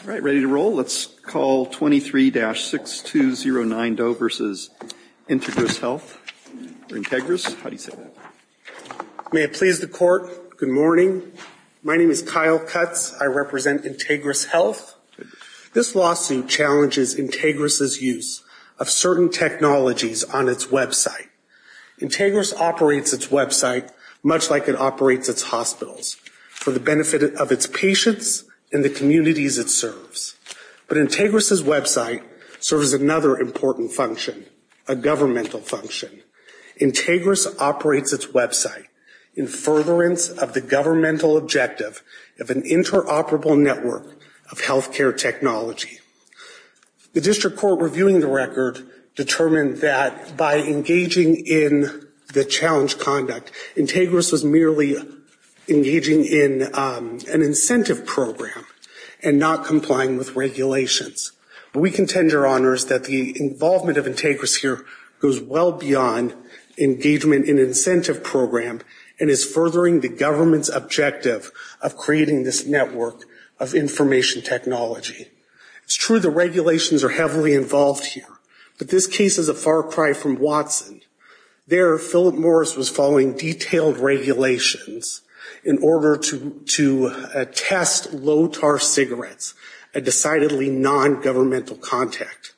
All right, ready to roll. Let's call 23-6209 Doe v. Integris Health. Integris, how do you say that? May it please the court, good morning. My name is Kyle Cutts. I represent Integris Health. This lawsuit challenges Integris' use of certain technologies on its website. Integris operates its website much like it operates its hospitals, for the benefit of its patients and the communities it serves. But Integris' website serves another important function, a governmental function. Integris operates its website in furtherance of the governmental objective of an interoperable network of healthcare technology. The district court reviewing the record determined that by engaging in the challenge conduct, Integris was merely engaging in an incentive program and not complying with regulations. We contend, Your Honors, that the involvement of Integris here goes well beyond engagement in an incentive program and is furthering the government's objective of creating this network of information technology. It's true the regulations are heavily involved here, but this case is a far cry from Watson. There, Philip Morris was following detailed regulations in order to test low-tar cigarettes, a decidedly non-governmental contact.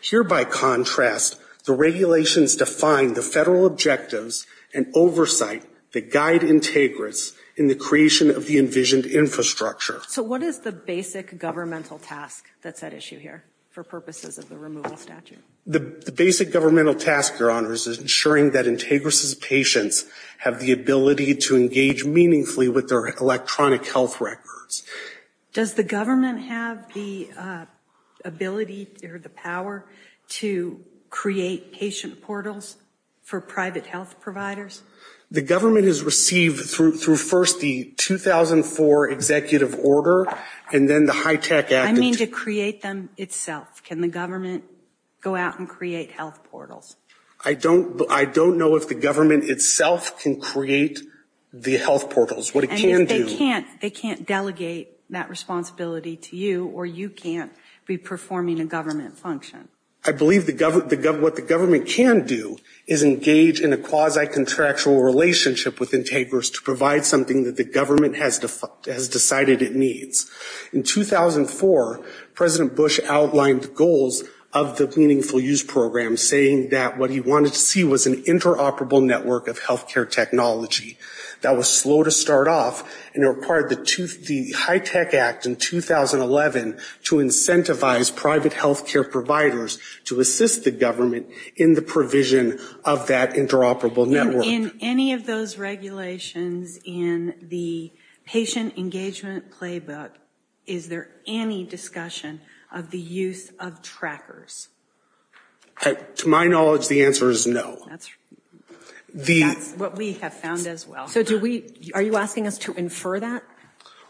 Here, by contrast, the regulations define the federal objectives and oversight that guide Integris in the creation of the envisioned infrastructure. So what is the basic governmental task that's at issue here for purposes of the removal statute? The basic governmental task, Your Honors, is ensuring that Integris' patients have the ability to engage meaningfully with their electronic health records. Does the government have the ability or the power to create patient portals for private health providers? The government has received through first the 2004 executive order and then the HITECH Act. I mean to create them itself. Can the government go out and create health portals? I don't know if the government itself can create the health portals. What it can do. And if they can't, they can't delegate that responsibility to you or you can't be performing a government function. I believe what the government can do is engage in a quasi-contractual relationship with Integris to provide something that the government has decided it needs. In 2004, President Bush outlined goals of the Meaningful Use Program, saying that what he wanted to see was an interoperable network of healthcare technology. That was slow to start off and it required the HITECH Act in 2011 to incentivize private healthcare providers to assist the government in the provision of that interoperable network. In any of those regulations in the patient engagement playbook, is there any discussion of the use of trackers? To my knowledge, the answer is no. That's what we have found as well. So are you asking us to infer that?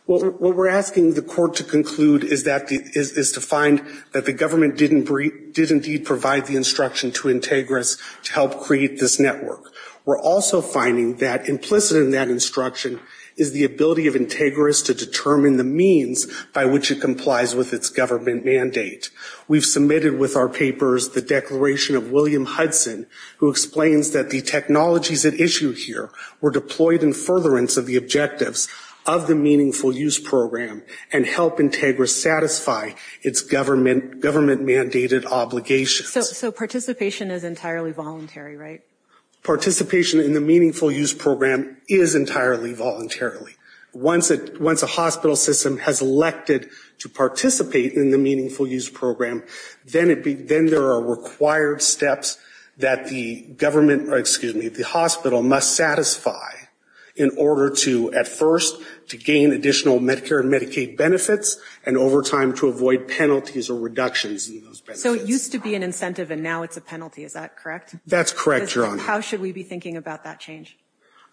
What we're asking the court to conclude is to find that the government did indeed provide the instruction to Integris to help create this network. We're also finding that implicit in that instruction is the ability of Integris to determine the means by which it complies with its government mandate. We've submitted with our papers the declaration of William Hudson, who explains that the technologies at issue here were deployed in furtherance of the objectives of the Meaningful Use Program and help Integris satisfy its government mandated obligations. So participation is entirely voluntary, right? Participation in the Meaningful Use Program is entirely voluntarily. Once a hospital system has elected to participate in the Meaningful Use Program, then there are required steps that the government, excuse me, the hospital must satisfy in order to, at first, to gain additional Medicare and Medicaid benefits and over time to avoid penalties or reductions in those benefits. So it used to be an incentive and now it's a penalty, is that correct? That's correct, Your Honor. How should we be thinking about that change?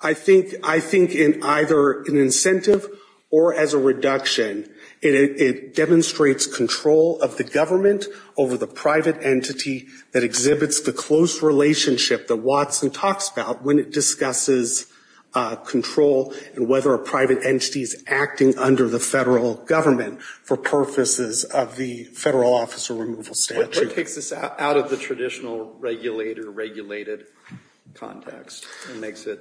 I think in either an incentive or as a reduction. It demonstrates control of the government over the private entity that exhibits the close relationship that Watson talks about when it discusses control and whether a private entity is acting under the federal government for purposes of the federal officer removal statute. So it takes this out of the traditional regulator-regulated context and makes it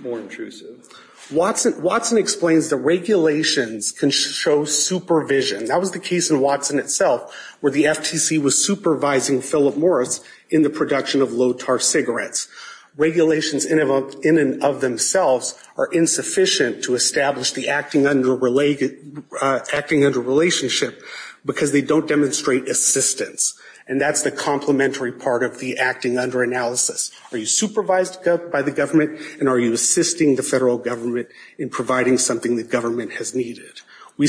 more intrusive. Watson explains that regulations can show supervision. That was the case in Watson itself where the FTC was supervising Philip Morris in the production of low-tar cigarettes. Regulations in and of themselves are insufficient to establish the acting under relationship because they don't demonstrate assistance. And that's the complementary part of the acting under analysis. Are you supervised by the government and are you assisting the federal government in providing something the government has needed? We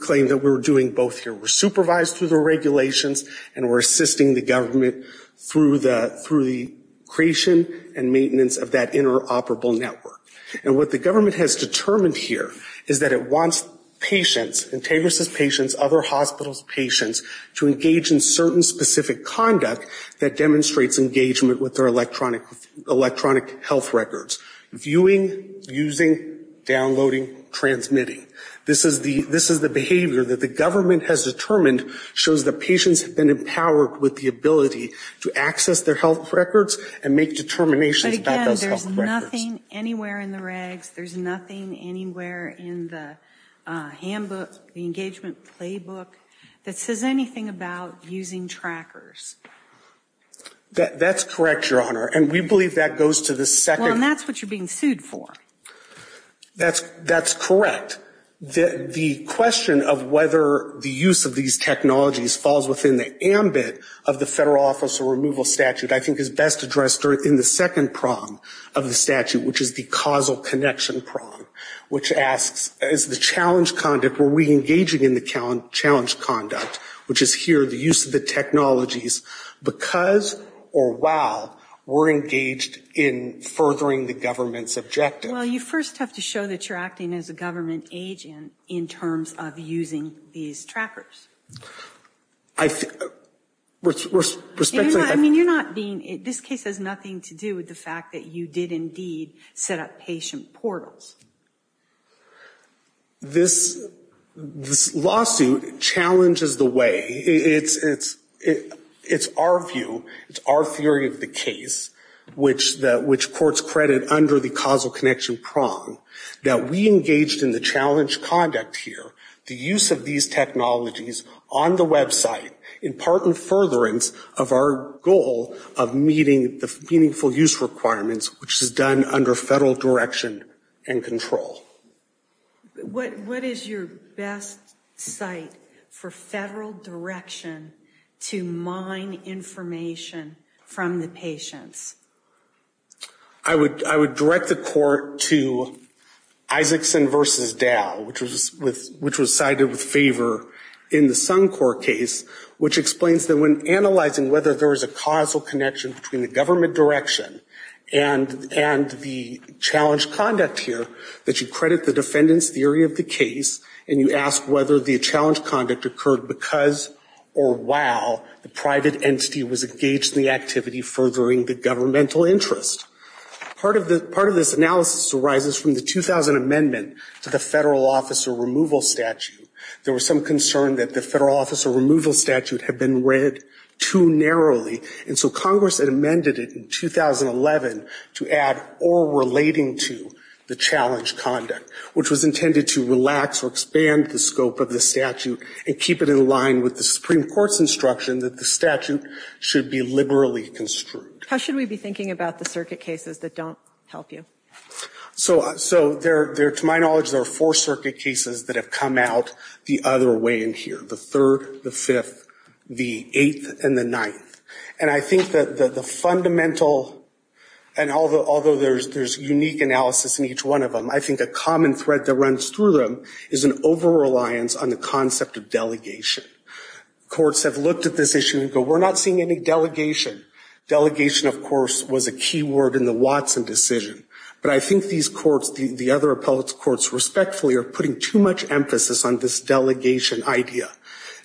claim that we're doing both here. We're supervised through the regulations and we're assisting the government through the creation and maintenance of that interoperable network. And what the government has determined here is that it wants patients, Entangled Patients, other hospitals' patients, to engage in certain specific conduct that demonstrates engagement with their electronic health records. Viewing, using, downloading, transmitting. This is the behavior that the government has determined shows that patients have been empowered with the ability to access their health records and make determinations about those health records. But again, there's nothing anywhere in the regs, there's nothing anywhere in the handbook, the engagement playbook, that says anything about using trackers. That's correct, Your Honor. And we believe that goes to the second. Well, and that's what you're being sued for. That's correct. The question of whether the use of these technologies falls within the ambit of the federal officer removal statute I think is best addressed in the second prong of the statute, which is the causal connection prong. Which asks, is the challenge conduct, were we engaging in the challenge conduct, which is here the use of the technologies, because or while we're engaged in furthering the government's objective? Well, you first have to show that you're acting as a government agent in terms of using these trackers. I think, with respect to... I mean, you're not being, this case has nothing to do with the fact that you did indeed set up patient portals. This lawsuit challenges the way, it's our view, it's our theory of the case, which courts credit under the causal connection prong, that we engaged in the challenge conduct here, the use of these technologies on the website, in part in furtherance of our goal of meeting the meaningful use requirements, which is done under federal direction and control. What is your best site for federal direction to mine information from the patients? I would direct the court to Isaacson v. Dow, which was cited with favor in the Suncor case, which explains that when analyzing whether there is a causal connection between the government direction and the challenge conduct here, that you credit the defendant's theory of the case, and you ask whether the challenge conduct occurred because or while the private entity was engaged in the activity furthering the governmental interest. Part of this analysis arises from the 2000 amendment to the federal officer removal statute. There was some concern that the federal officer removal statute had been read too narrowly, and so Congress had amended it in 2011 to add or relating to the challenge conduct, which was intended to relax or expand the scope of the statute and keep it in line with the Supreme Court's instruction that the statute should be liberally construed. How should we be thinking about the circuit cases that don't help you? To my knowledge, there are four circuit cases that have come out the other way in here, the third, the fifth, the eighth, and the ninth. And I think that the fundamental, and although there's unique analysis in each one of them, I think a common thread that runs through them is an over-reliance on the concept of delegation. Courts have looked at this issue and go, we're not seeing any delegation. Delegation, of course, was a key word in the Watson decision, but I think these courts, the other appellate courts respectfully are putting too much emphasis on this delegation idea.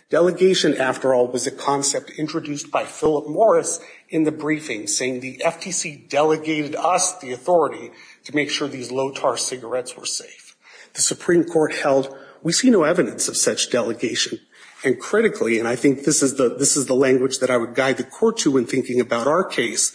Delegation, after all, was a concept introduced by Philip Morris in the briefing, saying the FTC delegated us the authority to make sure these low-tar cigarettes were safe. The Supreme Court held, we see no evidence of such delegation. And critically, and I think this is the language that I would guide the court to when thinking about our case,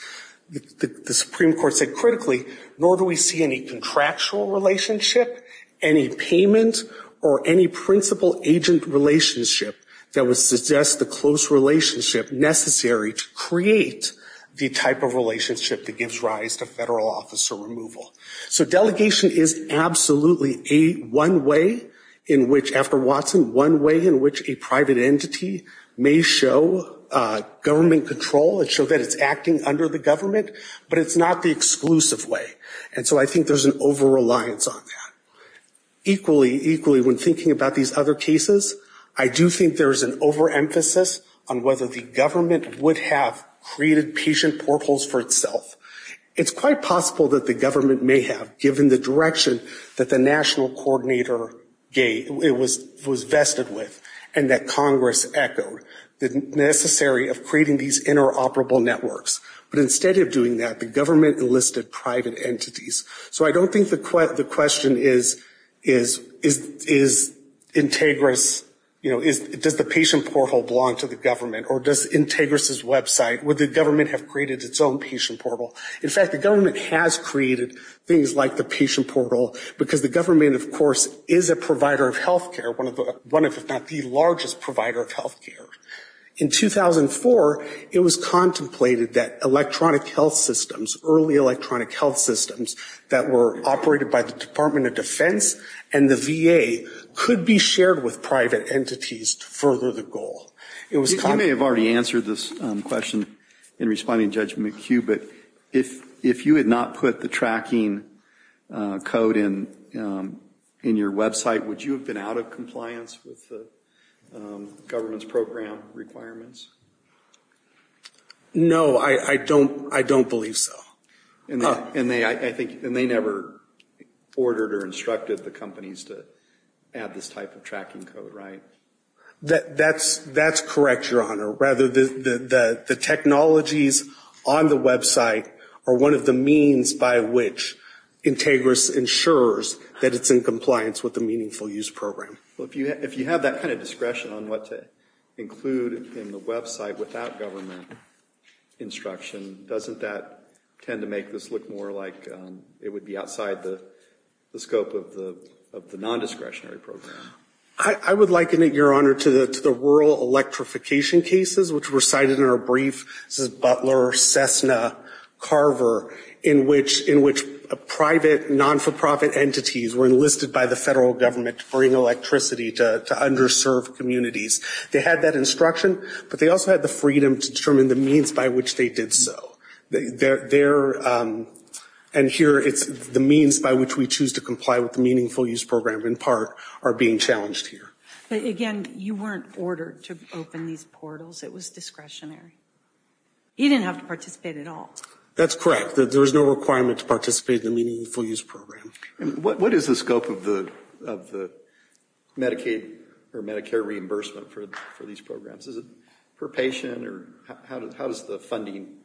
the Supreme Court said critically, nor do we see any contractual relationship, any payment, or any principal-agent relationship that would suggest the close relationship necessary to create the type of relationship that gives rise to federal officer removal. So delegation is absolutely one way in which, after Watson, one way in which a private entity may show government control and show that it's acting under the government, but it's not the exclusive way. And so I think there's an over-reliance on that. Equally, when thinking about these other cases, I do think there's an over-emphasis on whether the government would have created patient portholes for itself. It's quite possible that the government may have, given the direction that the national coordinator was vested with, and that Congress echoed, necessary of creating these interoperable networks. But instead of doing that, the government enlisted private entities. So I don't think the question is, is Integris, you know, does the patient porthole belong to the government, or does Integris' website, would the government have created its own patient porthole? In fact, the government has created things like the patient porthole, because the government, of course, is a provider of healthcare, one of the, one of, if not the largest provider of healthcare. In 2004, it was contemplated that electronic health systems, early electronic health systems, that were operated by the Department of Defense and the VA, could be shared with private entities to further the goal. It was contemplated. You may have already answered this question in responding to Judge McHugh, but if you had not put the tracking code in your website, would you have been out of compliance with the government's program requirements? No, I don't believe so. And they never ordered or instructed the companies to add this type of tracking code, right? That's correct, Your Honor. Rather, the technologies on the website are one of the means by which Integris ensures that it's in compliance with the Meaningful Use Program. Well, if you have that kind of discretion on what to include in the website without government instruction, doesn't that tend to make this look more like it would be outside the scope of the nondiscretionary program? I would liken it, Your Honor, to the rural electrification cases, which were cited in our brief. This is Butler, Cessna, Carver, in which private, non-for-profit entities were enlisted by the federal government to bring electricity to underserved communities. They had that instruction, but they also had the freedom to determine the means by which they did so. And here, it's the means by which we choose to comply with the Meaningful Use Program, in part, are being challenged here. But again, you weren't ordered to open these portals. It was discretionary. You didn't have to participate at all. That's correct. There was no requirement to participate in the Meaningful Use Program. What is the scope of the Medicaid or Medicare reimbursement for these programs? Is it per patient? How does the funding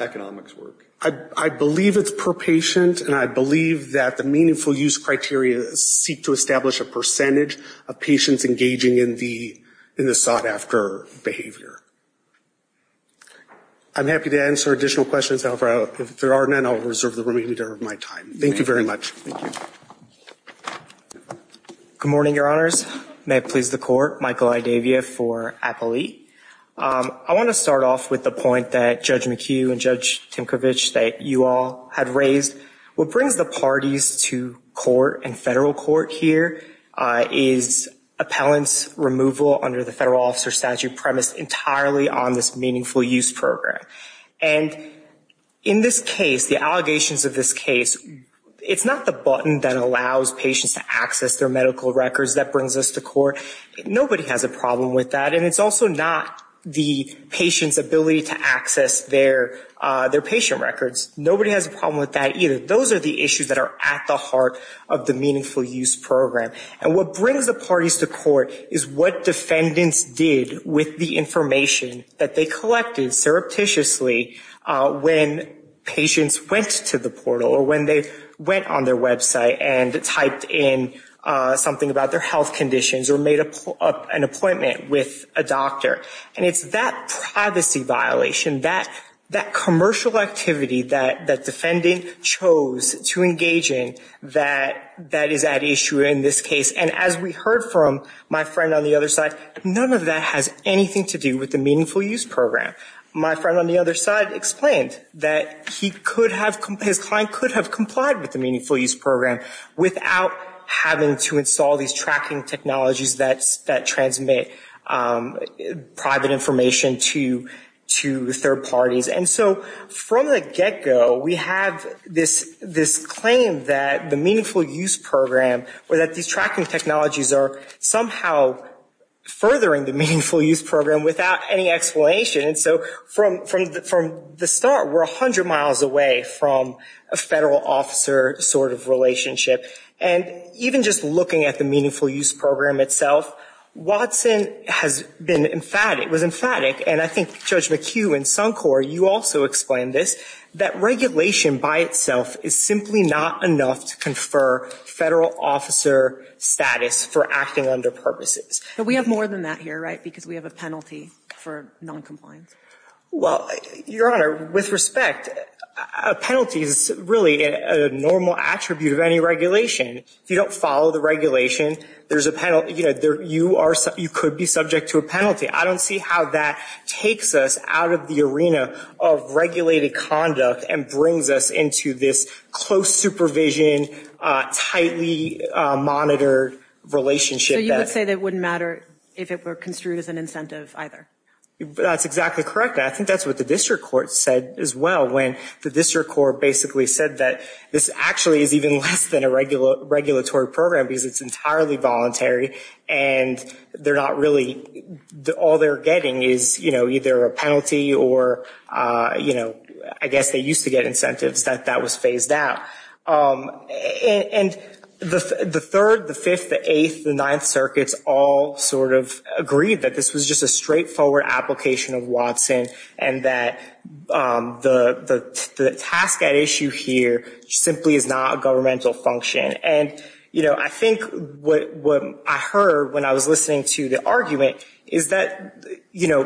economics work? I believe it's per patient, and I believe that the Meaningful Use criteria seek to establish a percentage of patients engaging in the sought-after behavior. I'm happy to answer additional questions. If there are none, I'll reserve the remainder of my time. Thank you very much. Good morning, Your Honors. May it please the Court, Michael I. Davia for Appellee. I want to start off with the point that Judge McHugh and Judge Tinkovich, that you all had raised. What brings the parties to court and federal court here is appellant's removal under the Federal Officer Statute premise entirely on this Meaningful Use Program. And in this case, the allegations of this case, it's not the button that allows patients to access their medical records that brings us to court. Nobody has a problem with that. And it's also not the patient's ability to access their patient records. Nobody has a problem with that either. Those are the issues that are at the heart of the Meaningful Use Program. And what brings the parties to court is what defendants did with the information that they collected, surreptitiously, when patients went to the portal or when they went on their website and typed in something about their health conditions or made an appointment with a doctor. And it's that privacy violation, that commercial activity that defendant chose to engage in that is at issue in this case. And as we heard from my friend on the other side, none of that has anything to do with the Meaningful Use Program. My friend on the other side explained that he could have, his client could have complied with the Meaningful Use Program without having to install these tracking technologies that transmit private information to third parties. And so from the get-go, we have this claim that the Meaningful Use Program or that these tracking technologies are somehow furthering the Meaningful Use Program without any explanation. So from the start, we're 100 miles away from a federal officer sort of relationship. And even just looking at the Meaningful Use Program itself, Watson has been emphatic, was emphatic, and I think Judge McHugh and Suncor, you also explained this, that regulation by itself is simply not enough to confer federal officer status for acting under purposes. But we have more than that here, right, because we have a penalty for noncompliance. Well, Your Honor, with respect, a penalty is really a normal attribute of any regulation. If you don't follow the regulation, you could be subject to a penalty. I don't see how that takes us out of the arena of regulated conduct and brings us into this close supervision, tightly monitored relationship. So you would say that it wouldn't matter if it were construed as an incentive either? That's exactly correct. I think that's what the district court said as well, when the district court basically said that this actually is even less than a regulatory program, because it's entirely voluntary, and they're not really, all they're getting is, you know, either a penalty or, you know, I guess they used to get incentives, that that was phased out. And the third, the fifth, the eighth, the ninth circuits all sort of agreed that this was just a straightforward application of Watson and that the task at issue here simply is not a governmental function. And, you know, I think what I heard when I was listening to the argument is that, you know,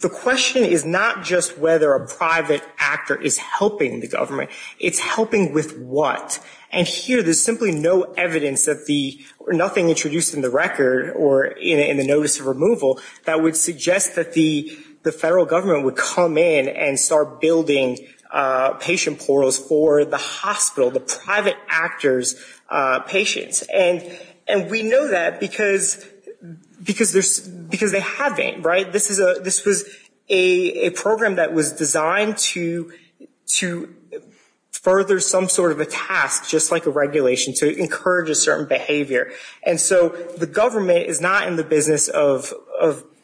the question is not just whether a private actor is helping the government, it's helping with what? And here there's simply no evidence that the, or nothing introduced in the record or in the notice of removal that would suggest that the federal government would come in and start building patient portals for the hospital, the private actor's patients. And we know that because they haven't, right? This was a program that was designed to further some sort of attack on the private sector. And it was a task, just like a regulation, to encourage a certain behavior. And so the government is not in the business of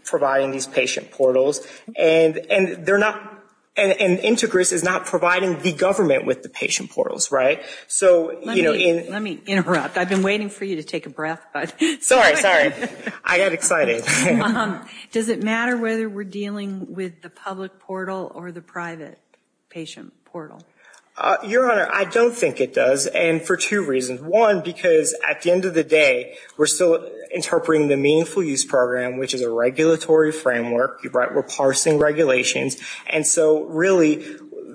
providing these patient portals. And they're not, and INTEGRIS is not providing the government with the patient portals, right? So, you know, in- Let me interrupt. I've been waiting for you to take a breath. Sorry, sorry. I got excited. Does it matter whether we're dealing with the public portal or the private patient portal? Your Honor, I don't think it does, and for two reasons. One, because at the end of the day, we're still interpreting the Meaningful Use Program, which is a regulatory framework. We're parsing regulations, and so really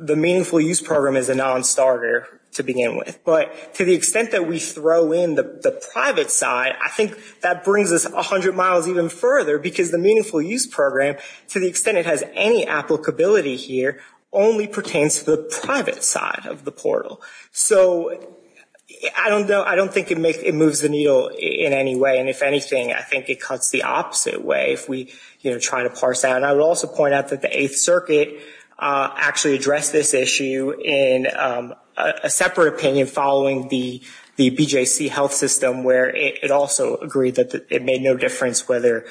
the Meaningful Use Program is a non-starter to begin with. But to the extent that we throw in the private side, I think that brings us 100 miles even further, because the Meaningful Use Program, to the extent it has any applicability here, only pertains to the private side of the portal. So I don't think it moves the needle in any way. And if anything, I think it cuts the opposite way if we, you know, try to parse that. And I would also point out that the Eighth Circuit actually addressed this issue in a separate opinion following the BJC health system, where it also agreed that it made no difference whether,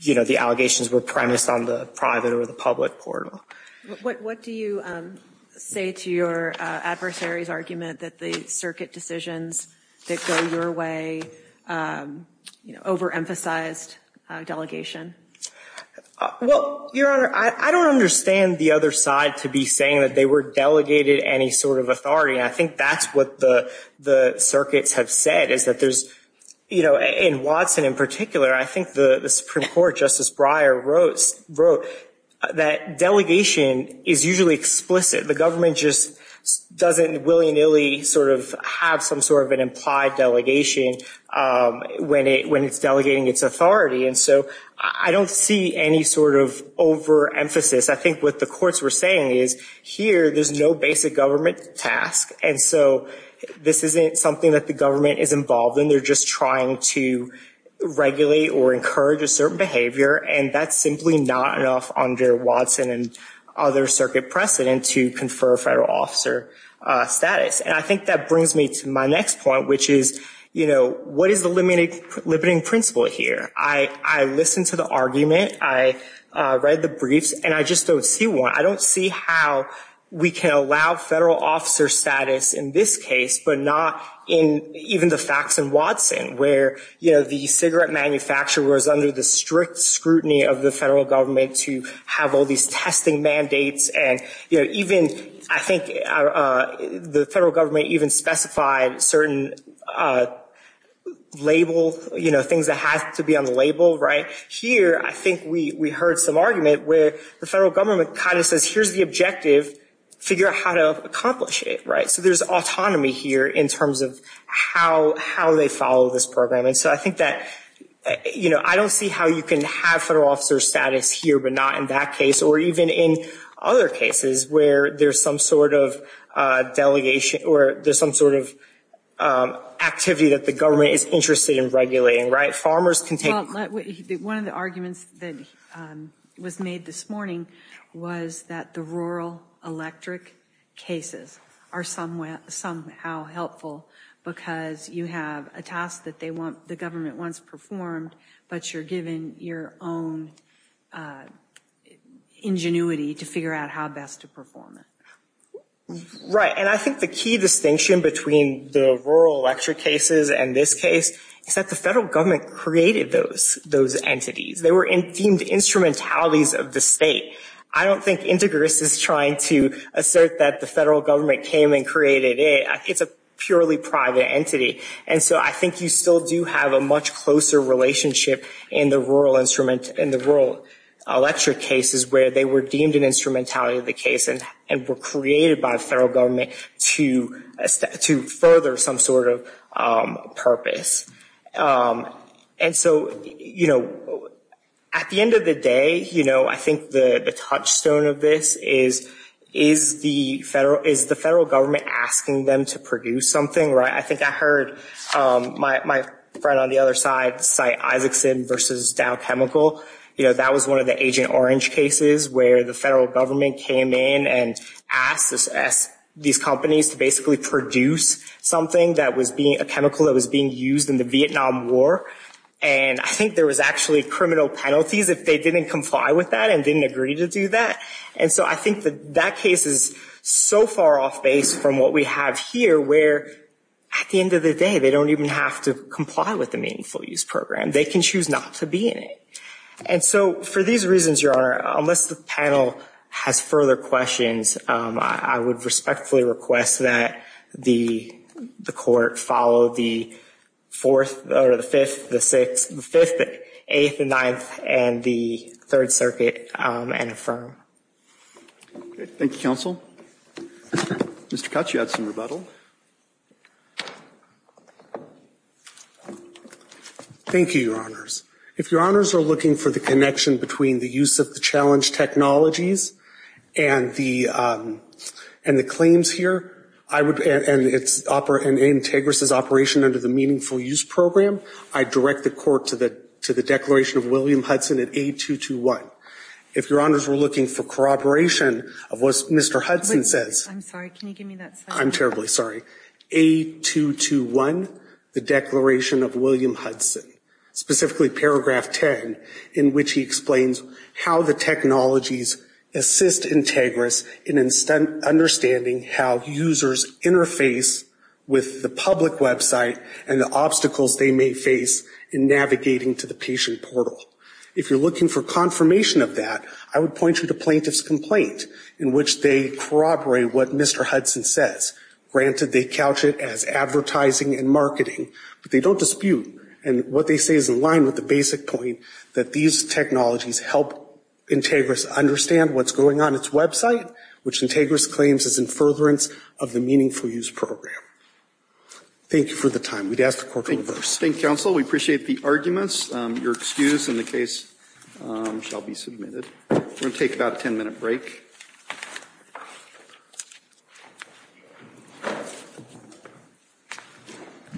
you know, the allegations were premised on the private or the public portal. What do you say to your adversary's argument that the circuit decisions that go your way, you know, over-emphasized delegation? Well, Your Honor, I don't understand the other side to be saying that they were delegated any sort of authority. And I think that's what the circuits have said, is that there's, you know, in Watson in particular, I think the Supreme Court, Justice Breyer, wrote that delegation is usually explicit. The government just doesn't willy-nilly sort of have some sort of an implied delegation when it, you know, when it's delegating its authority. And so I don't see any sort of over-emphasis. I think what the courts were saying is, here, there's no basic government task, and so this isn't something that the government is involved in. They're just trying to regulate or encourage a certain behavior, and that's simply not enough under Watson and other circuit precedent to confer federal officer status. And I think that brings me to my next point, which is, you know, what is the limiting principle here? I listened to the argument, I read the briefs, and I just don't see one. I don't see how we can allow federal officer status in this case, but not in even the facts in Watson, where, you know, the cigarette manufacturer was under the strict scrutiny of the federal government to have all these testing mandates. And, you know, even I think the federal government even specified certain label, you know, things that have to be on the label, right? Here, I think we heard some argument where the federal government kind of says, here's the objective, figure out how to accomplish it, right? So there's autonomy here in terms of how they follow this program. And so I think that, you know, I don't see how you can have federal officer status here, but not in that case or even in other cases where there's some sort of delegation or there's some sort of activity that the government is interested in regulating, right? Farmers can take... One of the arguments that was made this morning was that the rural electric cases are somehow helpful because you have a task that the government wants performed, but you're given your own ingenuity to figure out how best to perform it. Right. And I think the key distinction between the rural electric cases and this case is that the federal government created those entities. They were deemed instrumentalities of the state. I don't think Integris is trying to assert that the federal government came and created it. It's a purely private entity. And so I think you still do have a much closer relationship in the rural electric cases where they were deemed an instrumentality of the case and were created by the federal government to further some sort of purpose. And so, you know, at the end of the day, you know, I think the touchstone of this is the federal government asking them to produce something, right? I think I heard my friend on the other side cite Isaacson versus Dow Chemical. You know, that was one of the Agent Orange cases where the federal government came in and asked these companies to basically produce something that was being, a chemical that was being used in the Vietnam War. And I think there was actually criminal penalties if they didn't comply with that and didn't agree to do that. And so I think that that case is so far off base from what we have here, where at the end of the day, they don't even have to comply with the Meaningful Use Program. They can choose not to be in it. And so for these reasons, Your Honor, unless the panel has further questions, I would respectfully request that the Court follow the fourth, or the fifth, the sixth, the fifth, the eighth, the ninth, and the Third Circuit and affirm. Okay. Thank you, Counsel. Mr. Couch, you had some rebuttal. Thank you, Your Honors. If Your Honors are looking for the connection between the use of the challenge technologies and the claims here, and Antegris' operation under the Meaningful Use Program, I direct the Court to the declaration of William Hudson at A221. If Your Honors were looking for corroboration of what Mr. Hudson says... I'm sorry. Can you give me that slide? I'm terribly sorry. A221, the declaration of William Hudson, specifically paragraph 10, in which he explains how the technologies assist Antegris in understanding how users interface with the public website and the obstacles they may face in navigating to the patient portal. If you're looking for confirmation of that, I would point you to Plaintiff's Complaint, in which they corroborate what Mr. Hudson says. Granted, they couch it as advertising and marketing, but they don't dispute. And what they say is in line with the basic point that these technologies help Antegris understand what's going on in its website, which Antegris claims is in furtherance of the Meaningful Use Program. Thank you for the time. We'd ask the Court to reverse. Thank you, counsel. We appreciate the arguments. Your excuse in the case shall be submitted. We're going to take about a ten-minute break.